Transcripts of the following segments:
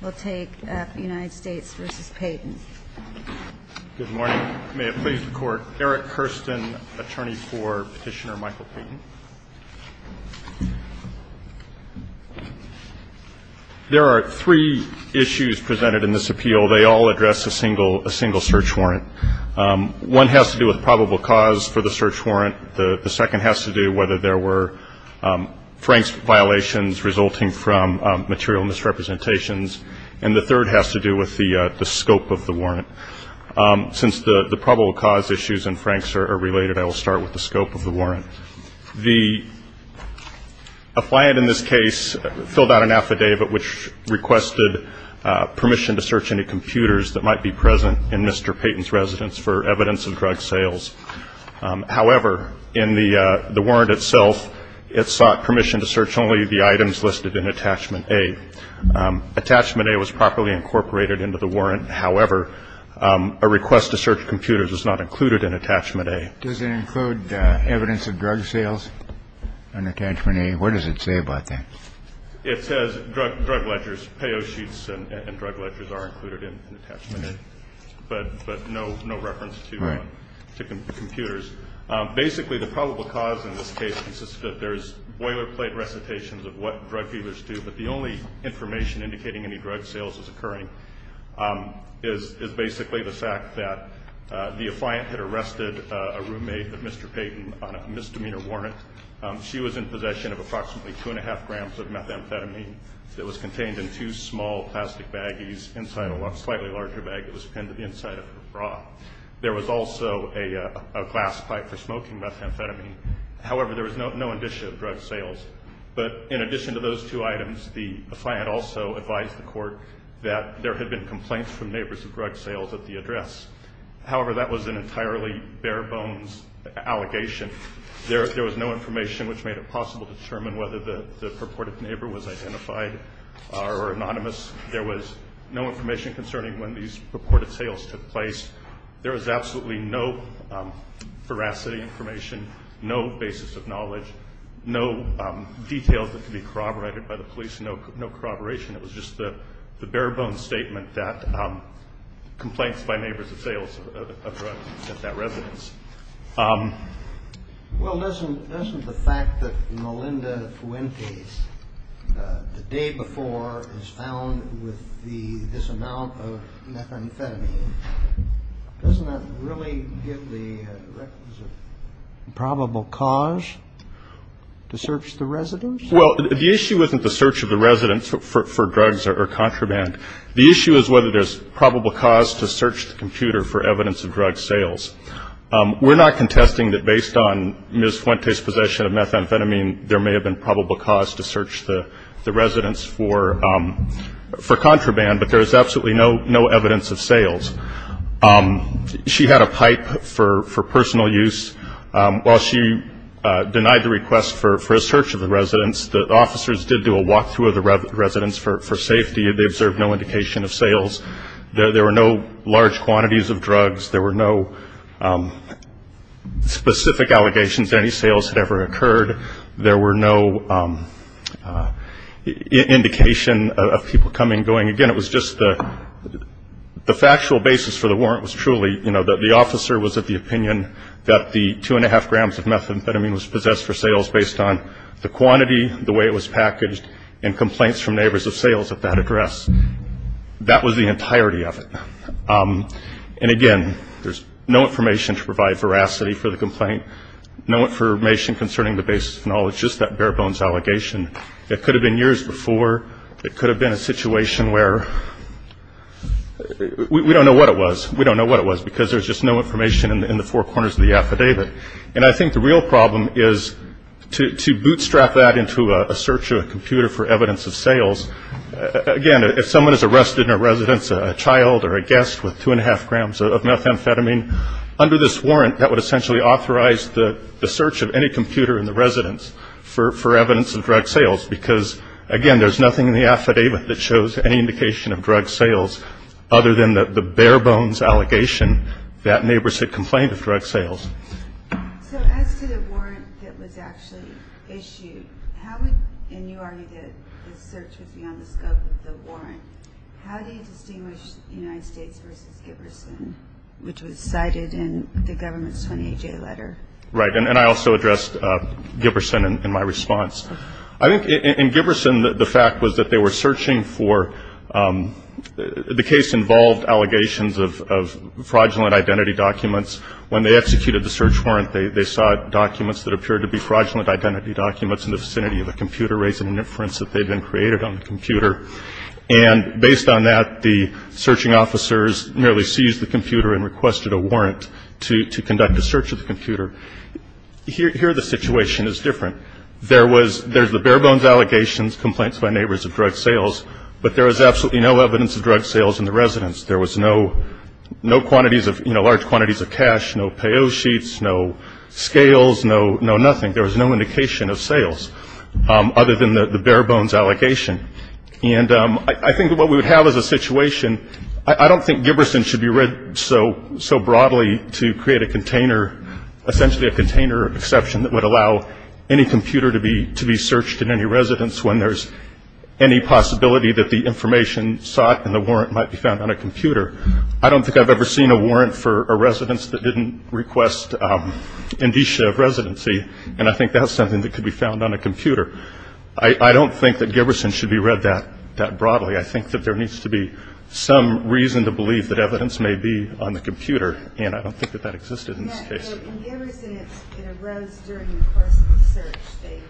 Good morning. May it please the Court, Eric Hurston, attorney for Petitioner Michael Payton. There are three issues presented in this appeal. They all address a single search warrant. One has to do with probable cause for the search warrant. The second has to do whether there were Franks violations resulting from material misrepresentations. And the third has to do with the scope of the warrant. Since the probable cause issues and Franks are related, I will start with the scope of the warrant. The appliant in this case filled out an affidavit which requested permission to search any computers that might be present in Mr. Payton's residence for evidence of drug sales. However, in the warrant itself, it sought permission to search only the items listed in Attachment A. Attachment A was properly incorporated into the warrant. However, a request to search computers is not included in Attachment A. Does it include evidence of drug sales in Attachment A? What does it say about that? It says drug ledgers, payo sheets and drug ledgers are included in Attachment A, but no reference to computers. Basically, the probable cause in this case consists that there's boilerplate recitations of what drug dealers do, but the only information indicating any drug sales is occurring is basically the fact that the that was contained in two small plastic baggies inside a slightly larger bag that was pinned to the inside of her bra. There was also a glass pipe for smoking methamphetamine. However, there was no indicia of drug sales. But in addition to those two items, the client also advised the court that there had been complaints from neighbors of drug sales at the address. However, that was an entirely bare bones allegation. There was no information which made it possible to determine whether the purported neighbor was identified or anonymous. There was no information concerning when these purported sales took place. There was absolutely no veracity information, no basis of knowledge, no details that could be corroborated by the police, no corroboration. It was just the bare bones statement that complaints by neighbors of sales of drugs at that residence. Well, doesn't the fact that Melinda Fuentes, the day before, is found with this amount of methamphetamine, doesn't that really give the requisite probable cause to search the residence? Well, the issue isn't the search of the residence for drugs or contraband. The issue is whether there's probable cause to search the computer for evidence of drug sales. We're not contesting that based on Ms. Fuentes' possession of methamphetamine, there may have been probable cause to search the residence for contraband, but there is absolutely no evidence of sales. She had a pipe for personal use. While she denied the request for a search of the residence, the officers did do a walk-through of the residence for safety. They observed no indication of sales. There were no large quantities of drugs. There were no specific allegations that any sales had ever occurred. There were no indication of people coming and going. Again, it was just the factual basis for the warrant was truly, you know, that the officer was of the opinion that the two-and-a-half grams of methamphetamine was possessed for sales based on the quantity, the way it was packaged, and complaints from neighbors of sales at that address. That was the entirety of it. And, again, there's no information to provide veracity for the complaint, no information concerning the basis of knowledge, just that bare-bones allegation. It could have been years before. It could have been a situation where we don't know what it was. We don't know what it was because there's just no information in the four corners of the affidavit. And I think the real problem is to bootstrap that into a search of a computer for evidence of sales. Again, if someone is arrested in a residence, a child or a guest with two-and-a-half grams of methamphetamine, under this warrant that would essentially authorize the search of any computer in the residence for evidence of drug sales because, again, there's nothing in the affidavit that shows any indication of drug sales other than the bare-bones allegation that neighbors had complained of drug sales. So as to the warrant that was actually issued, and you already did the search with me on the scope of the warrant, how do you distinguish United States versus Giberson, which was cited in the government's 28-J letter? Right, and I also addressed Giberson in my response. I think in Giberson the fact was that they were searching for the case-involved allegations of fraudulent identity documents. When they executed the search warrant, they saw documents that appeared to be fraudulent identity documents in the vicinity of the computer raising an inference that they'd been created on the computer. And based on that, the searching officers merely seized the computer and requested a warrant to conduct a search of the computer. Here the situation is different. There's the bare-bones allegations, complaints by neighbors of drug sales, but there was absolutely no evidence of drug sales in the residence. There was no quantities of, you know, large quantities of cash, no payo sheets, no scales, no nothing. There was no indication of sales other than the bare-bones allegation. And I think what we would have as a situation, I don't think Giberson should be read so broadly to create a container, essentially a container exception that would allow any computer to be searched in any residence when there's any possibility that the information sought in the warrant might be found on a computer. I don't think I've ever seen a warrant for a residence that didn't request indicia of residency, and I think that's something that could be found on a computer. I don't think that Giberson should be read that broadly. I think that there needs to be some reason to believe that evidence may be on the computer, and I don't think that that existed in this case. So in Giberson, it arose during the course of the search.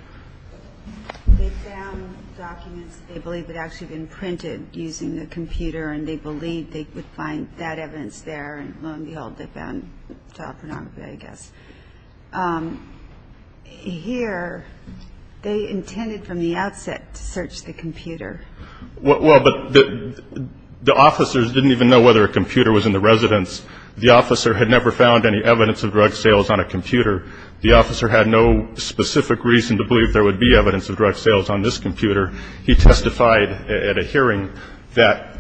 They found documents they believed had actually been printed using the computer, and they believed they would find that evidence there, and lo and behold, they found child pornography, I guess. Here, they intended from the outset to search the computer. Well, but the officers didn't even know whether a computer was in the residence. The officer had never found any evidence of drug sales on a computer. The officer had no specific reason to believe there would be evidence of drug sales on this computer. He testified at a hearing that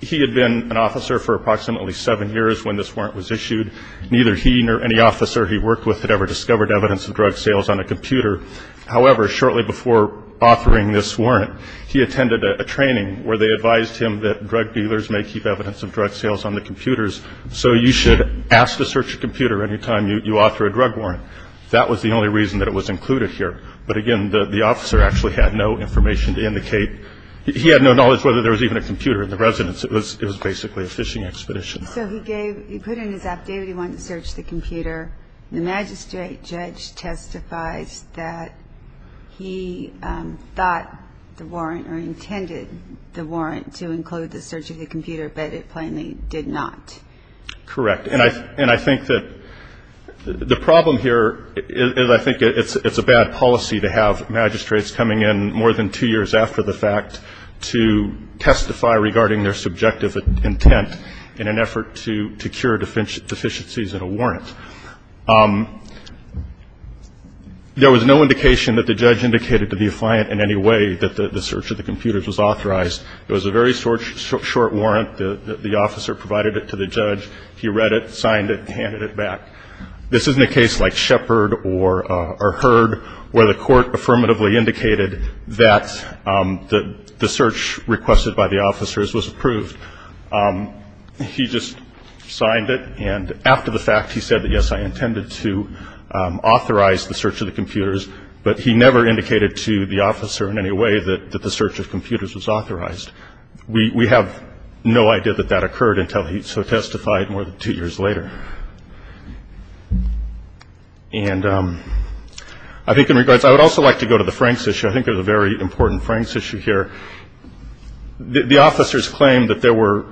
he had been an officer for approximately seven years when this warrant was issued. Neither he nor any officer he worked with had ever discovered evidence of drug sales on a computer. However, shortly before offering this warrant, he attended a training where they advised him that drug dealers may keep evidence of drug sales on the computers so you should ask to search a computer any time you offer a drug warrant. That was the only reason that it was included here. But again, the officer actually had no information to indicate. He had no knowledge whether there was even a computer in the residence. It was basically a phishing expedition. So he gave ñ he put in his affidavit he wanted to search the computer. The magistrate judge testifies that he thought the warrant or intended the warrant to include the search of the computer, but it plainly did not. Correct. And I think that the problem here is I think it's a bad policy to have magistrates coming in more than two years after the fact to testify regarding their subjective intent in an effort to cure deficiencies in a warrant. There was no indication that the judge indicated to the client in any way that the search of the computers was authorized. It was a very short warrant. The officer provided it to the judge. He read it, signed it, and handed it back. This isn't a case like Shepard or Heard where the court affirmatively indicated that the search requested by the officers was approved. He just signed it. And after the fact, he said that, yes, I intended to authorize the search of the computers, but he never indicated to the officer in any way that the search of computers was authorized. We have no idea that that occurred until he testified more than two years later. And I think in regards ñ I would also like to go to the Franks issue. I think there's a very important Franks issue here. The officers claimed that there were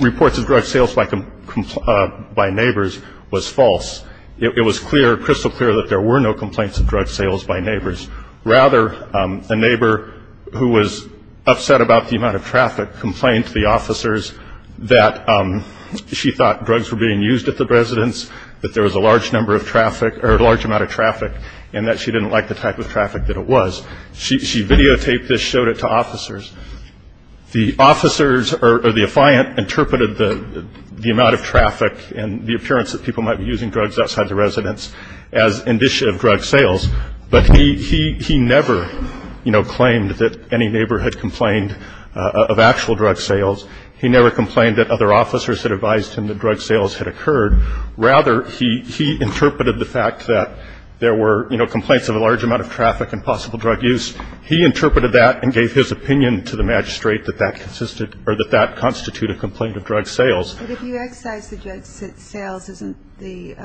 reports of drug sales by neighbors was false. It was crystal clear that there were no complaints of drug sales by neighbors. Rather, a neighbor who was upset about the amount of traffic complained to the officers that she thought drugs were being used at the residence, that there was a large amount of traffic, and that she didn't like the type of traffic that it was. She videotaped this, showed it to officers. The officers or the affiant interpreted the amount of traffic and the appearance that people might be using drugs outside the residence as indicative of drug sales. But he never, you know, claimed that any neighbor had complained of actual drug sales. He never complained that other officers had advised him that drug sales had occurred. Rather, he interpreted the fact that there were, you know, a large amount of traffic and possible drug use. He interpreted that and gave his opinion to the magistrate that that constituted a complaint of drug sales. But if you exercise the drug sales, isn't the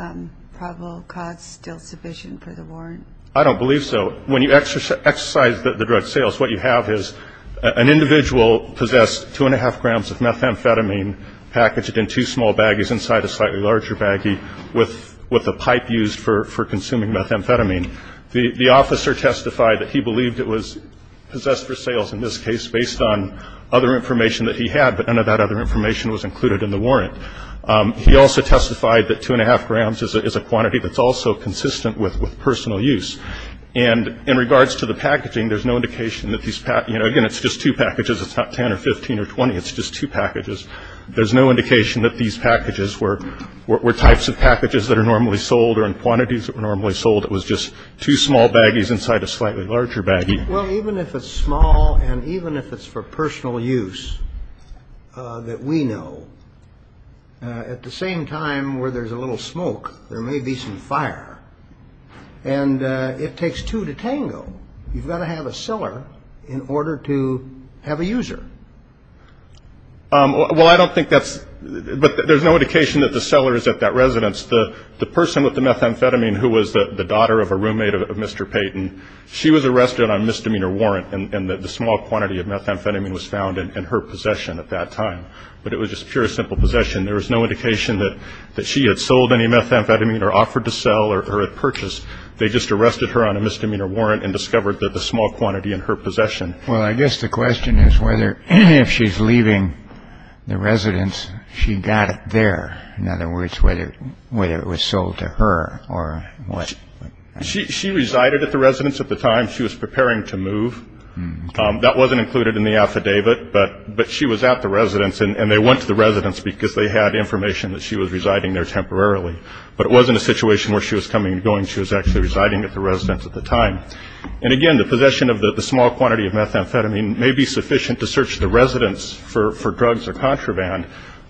probable cause still sufficient for the warrant? I don't believe so. When you exercise the drug sales, what you have is an individual possessed 2 1⁄2 grams of methamphetamine packaged in two small baggies inside a slightly larger baggie with a pipe used for consuming methamphetamine. The officer testified that he believed it was possessed for sales, in this case, based on other information that he had, but none of that other information was included in the warrant. He also testified that 2 1⁄2 grams is a quantity that's also consistent with personal use. And in regards to the packaging, there's no indication that these, you know, again, it's just two packages. It's not 10 or 15 or 20. It's just two packages. There's no indication that these packages were types of packages that are normally sold or in quantities that were normally sold. It was just two small baggies inside a slightly larger baggie. Well, even if it's small and even if it's for personal use that we know, at the same time where there's a little smoke, there may be some fire. And it takes two to tango. You've got to have a cellar in order to have a user. Well, I don't think that's – but there's no indication that the cellar is at that residence. The person with the methamphetamine who was the daughter of a roommate of Mr. Payton, she was arrested on misdemeanor warrant, and the small quantity of methamphetamine was found in her possession at that time. But it was just pure, simple possession. There was no indication that she had sold any methamphetamine or offered to sell or had purchased. They just arrested her on a misdemeanor warrant and discovered the small quantity in her possession. Well, I guess the question is whether if she's leaving the residence, she got it there. In other words, whether it was sold to her or what. She resided at the residence at the time. She was preparing to move. That wasn't included in the affidavit, but she was at the residence, and they went to the residence because they had information that she was residing there temporarily. But it wasn't a situation where she was coming and going. She was actually residing at the residence at the time. And, again, the possession of the small quantity of methamphetamine may be sufficient to search the residence for drugs or contraband,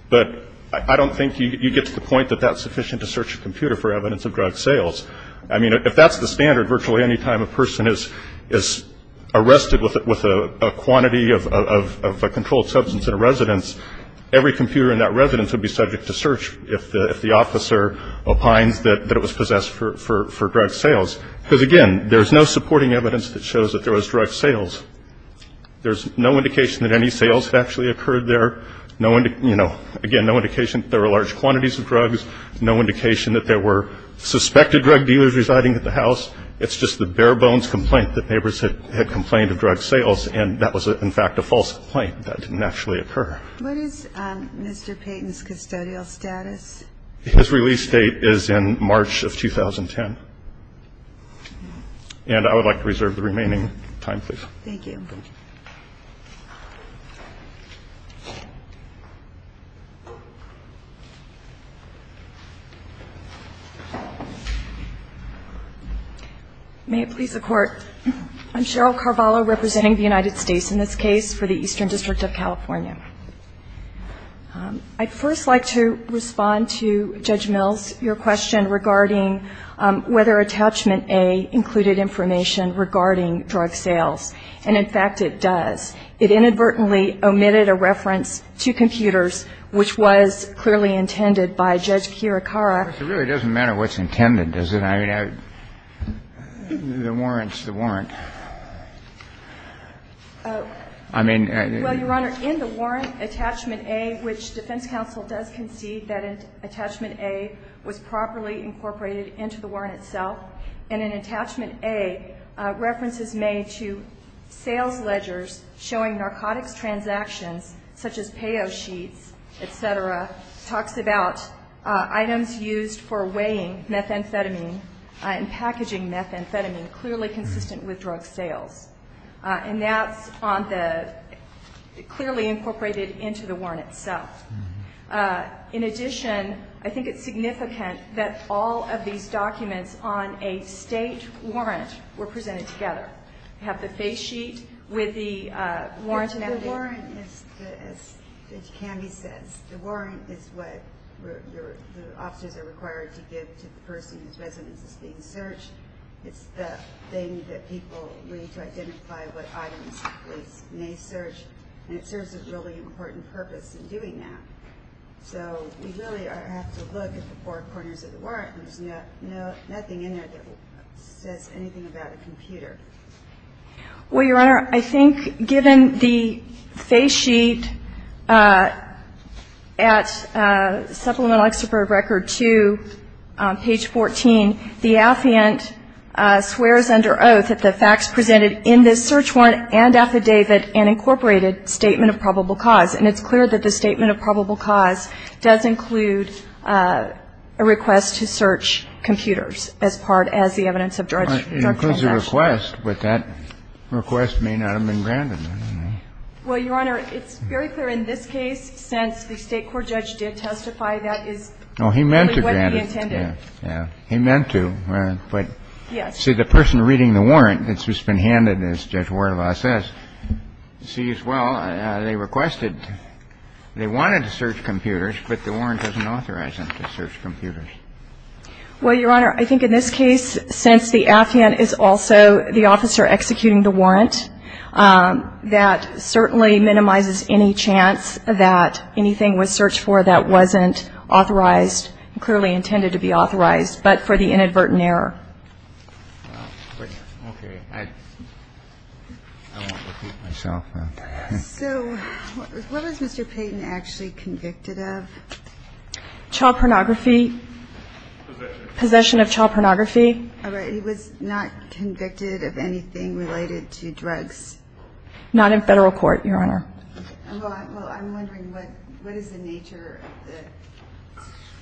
but I don't think you get to the point that that's sufficient to search a computer for evidence of drug sales. I mean, if that's the standard, virtually any time a person is arrested with a quantity of a controlled substance in a residence, every computer in that residence would be subject to search if the officer opines that it was possessed for drug sales. Because, again, there's no supporting evidence that shows that there was drug sales. There's no indication that any sales had actually occurred there. No, you know, again, no indication that there were large quantities of drugs. No indication that there were suspected drug dealers residing at the house. It's just the bare-bones complaint that neighbors had complained of drug sales, and that was, in fact, a false complaint. That didn't actually occur. What is Mr. Payton's custodial status? His release date is in March of 2010. And I would like to reserve the remaining time, please. Thank you. May it please the Court. I'm Cheryl Carvalho, representing the United States in this case for the Eastern District of California. I'd first like to respond to Judge Mills, your question regarding whether Attachment A included information regarding drug sales. And, in fact, it does. It inadvertently omitted a reference to computers, which was clearly intended by Judge Kirikara. It really doesn't matter what's intended, does it? I mean, the warrants, the warrant. I mean the ---- Well, Your Honor, in the warrant, Attachment A, which defense counsel does concede that Attachment A was properly incorporated into the warrant itself, and in Attachment A, references made to sales ledgers showing narcotics transactions, such as payo sheets, et cetera, talks about items used for weighing methamphetamine and packaging methamphetamine, clearly consistent with drug sales. And that's on the ---- clearly incorporated into the warrant itself. In addition, I think it's significant that all of these documents on a state warrant were presented together. You have the face sheet with the warrant and the ---- The warrant is, as Judge Canvey says, the warrant is what the officers are required to give to the person whose residence is being searched. It's the thing that people need to identify what items the police may search. And it serves a really important purpose in doing that. So we really have to look at the four corners of the warrant. There's nothing in there that says anything about a computer. Well, Your Honor, I think given the face sheet at Supplemental Excerpt Record 2 on page 14, the affiant swears under oath that the facts presented in this search warrant and affidavit and incorporated statement of probable cause. And it's clear that the statement of probable cause does include a request to search computers as part as the evidence of drug transaction. It includes a request, but that request may not have been granted. Well, Your Honor, it's very clear in this case, since the State court judge did testify, that is what he intended. Oh, he meant to grant it. Yeah. He meant to. Yes. See, the person reading the warrant that's just been handed, as Judge Wardlaw says, sees, well, they requested, they wanted to search computers, but the warrant doesn't authorize them to search computers. Well, Your Honor, I think in this case, since the affiant is also the officer executing the warrant, that certainly minimizes any chance that anything was searched for that wasn't authorized and clearly intended to be authorized, but for the inadvertent error. Well, okay. I won't repeat myself. So what was Mr. Payton actually convicted of? Child pornography. Possession. Possession of child pornography. All right. He was not convicted of anything related to drugs. Not in Federal court, Your Honor. Well, I'm wondering what is the nature of the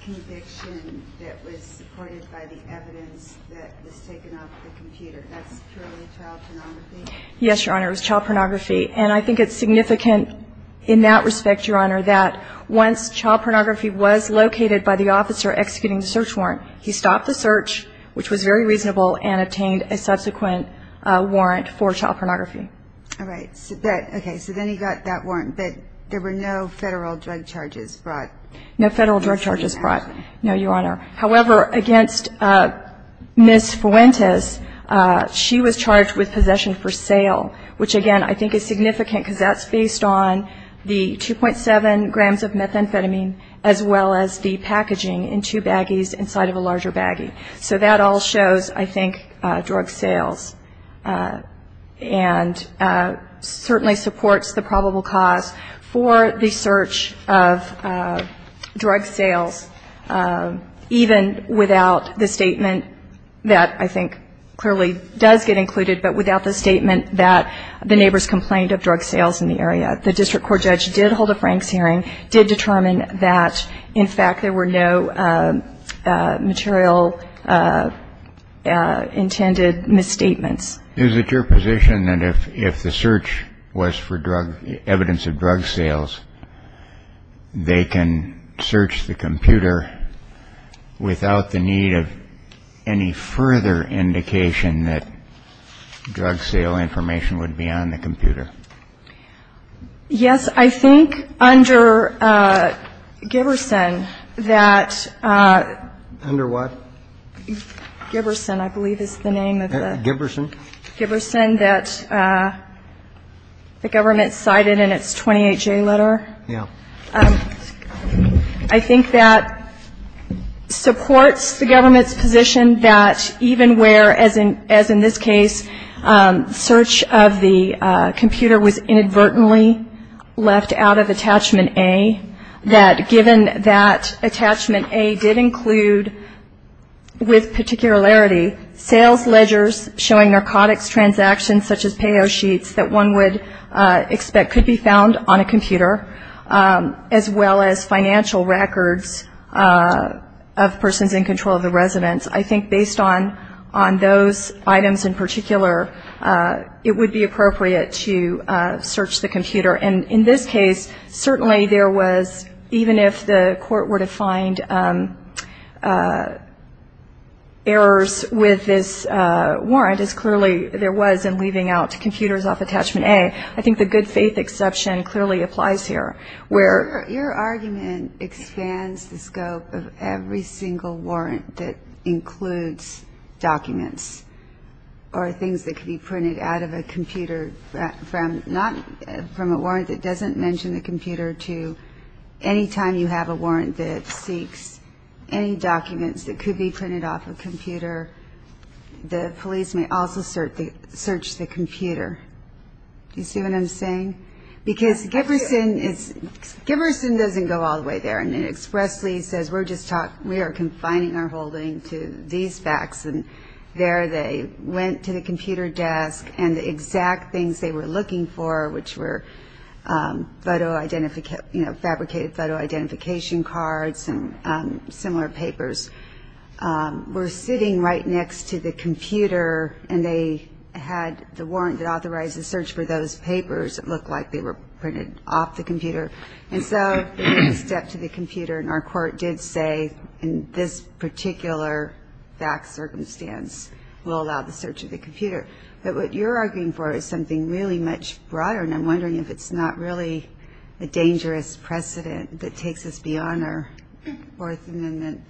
conviction that was supported by the evidence that was taken off the computer? That's purely child pornography? Yes, Your Honor. It was child pornography. And I think it's significant in that respect, Your Honor, that once child pornography was located by the officer executing the search warrant, he stopped the search, which was very reasonable, and obtained a subsequent warrant for child pornography. All right. Okay. So then he got that warrant, but there were no Federal drug charges brought? No Federal drug charges brought, no, Your Honor. However, against Ms. Fuentes, she was charged with possession for sale, which again I think is significant because that's based on the 2.7 grams of methamphetamine as well as the packaging in two baggies inside of a larger baggie. So that all shows, I think, drug sales. And certainly supports the probable cause for the search of drug sales, even without the statement that I think clearly does get included, but without the statement that the neighbors complained of drug sales in the area. The district court judge did hold a Franks hearing, that in fact there were no material intended misstatements. Is it your position that if the search was for evidence of drug sales, they can search the computer without the need of any further indication that drug sale information would be on the computer? Yes. I think under Giberson that. Under what? Giberson, I believe is the name of the. Giberson. Giberson that the government cited in its 28-J letter. Yeah. I think that supports the government's position that even where, as in this case, search of the computer was inadvertently left out of attachment A, that given that attachment A did include, with particularity, sales ledgers showing narcotics transactions, such as payo sheets, that one would expect could be found on a computer, as well as financial records of persons in control of the residence. I think based on those items in particular, it would be appropriate to search the computer. And in this case, certainly there was, even if the court were to find errors with this warrant, as clearly there was in leaving out computers off attachment A, I think the good faith exception clearly applies here. Your argument expands the scope of every single warrant that includes documents or things that could be printed out of a computer, from a warrant that doesn't mention the computer to any time you have a warrant that seeks any documents that could be printed off a computer, the police may also search the computer. Do you see what I'm saying? Because Giberson doesn't go all the way there, and expressly says we are confining our holding to these facts, and there they went to the computer desk, and the exact things they were looking for, which were fabricated photo identification cards and similar papers, were sitting right next to the computer, and they had the warrant that authorized the search for those papers that looked like they were printed off the computer. And so they stepped to the computer, and our court did say in this particular fact circumstance we'll allow the search of the computer. But what you're arguing for is something really much broader, and I'm wondering if it's not really a dangerous precedent that takes us beyond our Fourth Amendment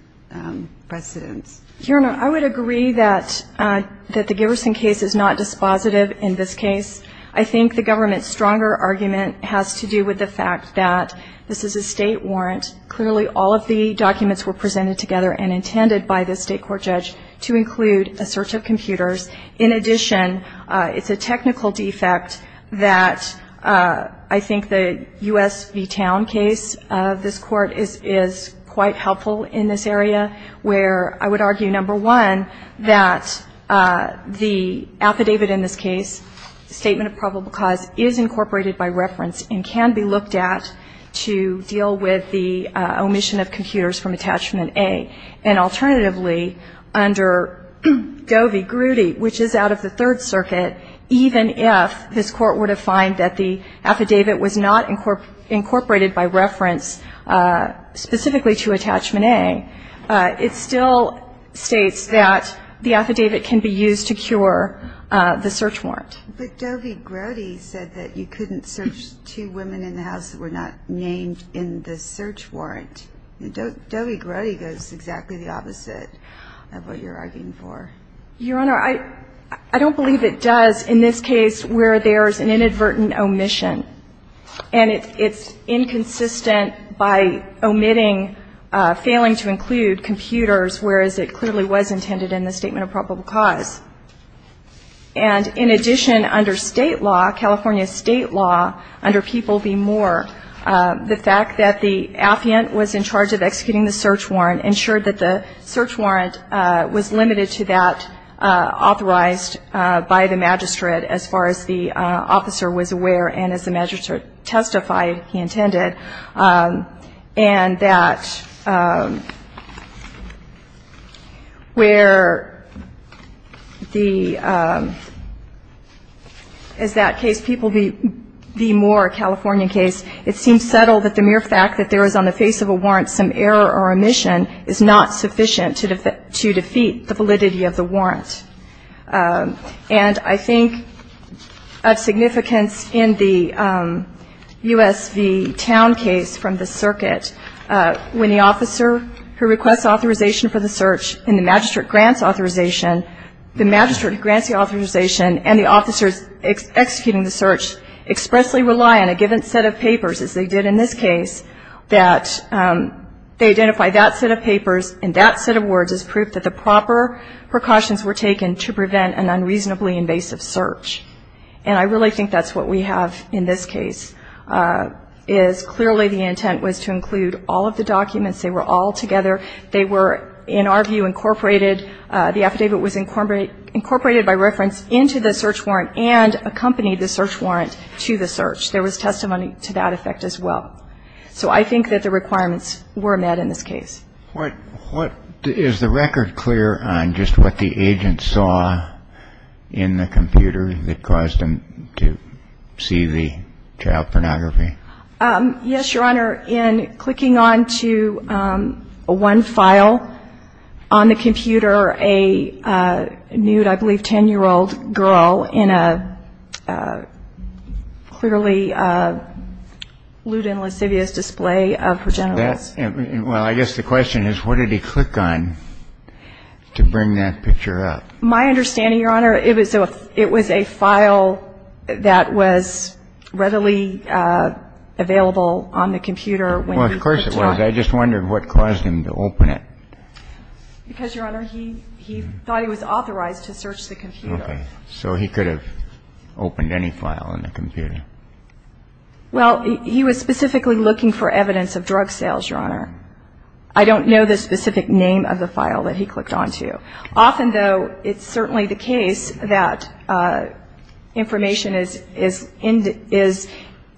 precedents. Your Honor, I would agree that the Giberson case is not dispositive in this case. I think the government's stronger argument has to do with the fact that this is a state warrant. Clearly all of the documents were presented together and intended by the state court judge to include a search of computers. In addition, it's a technical defect that I think the U.S. v. Towne case of this court is quite helpful in this area, where I would argue, number one, that the affidavit in this case, Statement of Probable Cause, is incorporated by reference and can be looked at to deal with the omission of computers from Attachment A. And alternatively, under Govey-Grudy, which is out of the Third Circuit, even if this court were to find that the affidavit was not incorporated by reference specifically to Attachment A, it still states that the affidavit can be used to cure the search warrant. But Govey-Grudy said that you couldn't search two women in the house that were not named in the search warrant. Govey-Grudy goes exactly the opposite of what you're arguing for. Your Honor, I don't believe it does in this case where there's an inadvertent omission. And it's inconsistent by omitting, failing to include computers, whereas it clearly was intended in the Statement of Probable Cause. And in addition, under State law, California State law, under People v. Moore, the fact that the affiant was in charge of executing the search warrant ensured that the search warrant was limited to that authorized by the magistrate as far as the officer was aware and, as the magistrate testified, he intended. And that where the as that case, People v. Moore, a California case, it seems subtle that the mere fact that there is on the face of a warrant some error or omission is not sufficient to defeat the validity of the warrant. And I think of significance in the U.S. v. Town case from the circuit, when the officer who requests authorization for the search and the magistrate grants authorization, the magistrate grants the authorization and the officers executing the search expressly rely on a given set of papers, as they did in this case, that they identify that set of papers and that set of words as proof that the proper precautions were taken to prevent an unreasonably invasive search. And I really think that's what we have in this case, is clearly the intent was to include all of the documents. They were all together. They were, in our view, incorporated, the affidavit was incorporated by reference into the search warrant and accompanied the search warrant to the search. There was testimony to that effect as well. So I think that the requirements were met in this case. What is the record clear on just what the agent saw in the computer that caused him to see the child pornography? Yes, Your Honor. Well, I guess the question is, what did he click on to bring that picture up? My understanding, Your Honor, it was a file that was readily available on the computer when you clicked on it. Well, of course it was. I just wondered what caused him to open it. Because, Your Honor, he thought he was authorized to search the computer. Okay. So he could have opened any file on the computer. Well, he was specifically looking for evidence of drug sales, Your Honor. I don't know the specific name of the file that he clicked on to. Often, though, it's certainly the case that information is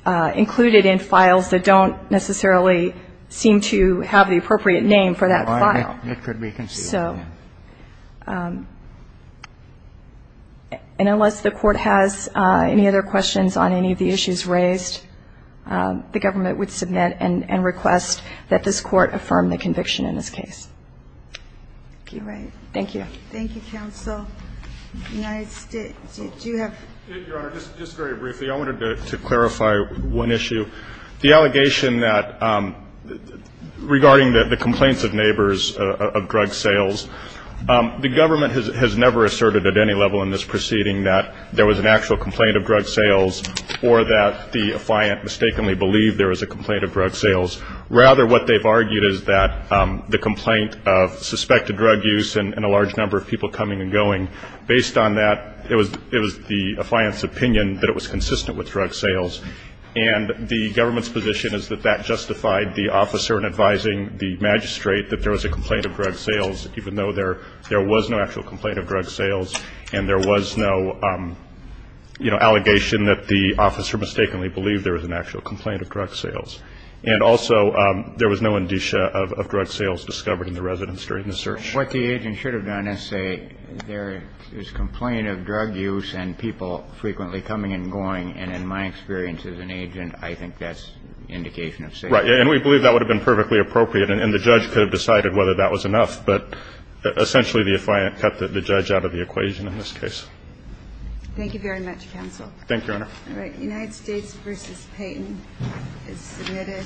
included in files that don't necessarily seem to have the appropriate name for that file. Well, it could be considered that. So. And unless the Court has any other questions on any of the issues raised, the government would submit and request that this Court affirm the conviction in this case. Thank you. Thank you. Thank you, counsel. United States. Do you have? Your Honor, just very briefly, I wanted to clarify one issue. The allegation that regarding the complaints of neighbors of drug sales, the government has never asserted at any level in this proceeding that there was an actual complaint of drug sales or that the affliant mistakenly believed there was a complaint of drug sales. Rather, what they've argued is that the complaint of suspected drug use and a large number of people coming and going, based on that, it was the affliant's opinion that it was consistent with drug sales. And the government's position is that that justified the officer in advising the magistrate that there was a complaint of drug sales, even though there was no actual complaint of drug sales and there was no, you know, allegation that the officer mistakenly believed there was an actual complaint of drug sales. And also, there was no indicia of drug sales discovered in the residence during the search. What the agent should have done is say there is complaint of drug use and people frequently coming and going, and in my experience as an agent, I think that's indication of safety. Right. And we believe that would have been perfectly appropriate and the judge could have decided whether that was enough. But essentially, the affliant cut the judge out of the equation in this case. Thank you very much, counsel. Thank you, Your Honor. All right. United States v. Payton is submitted.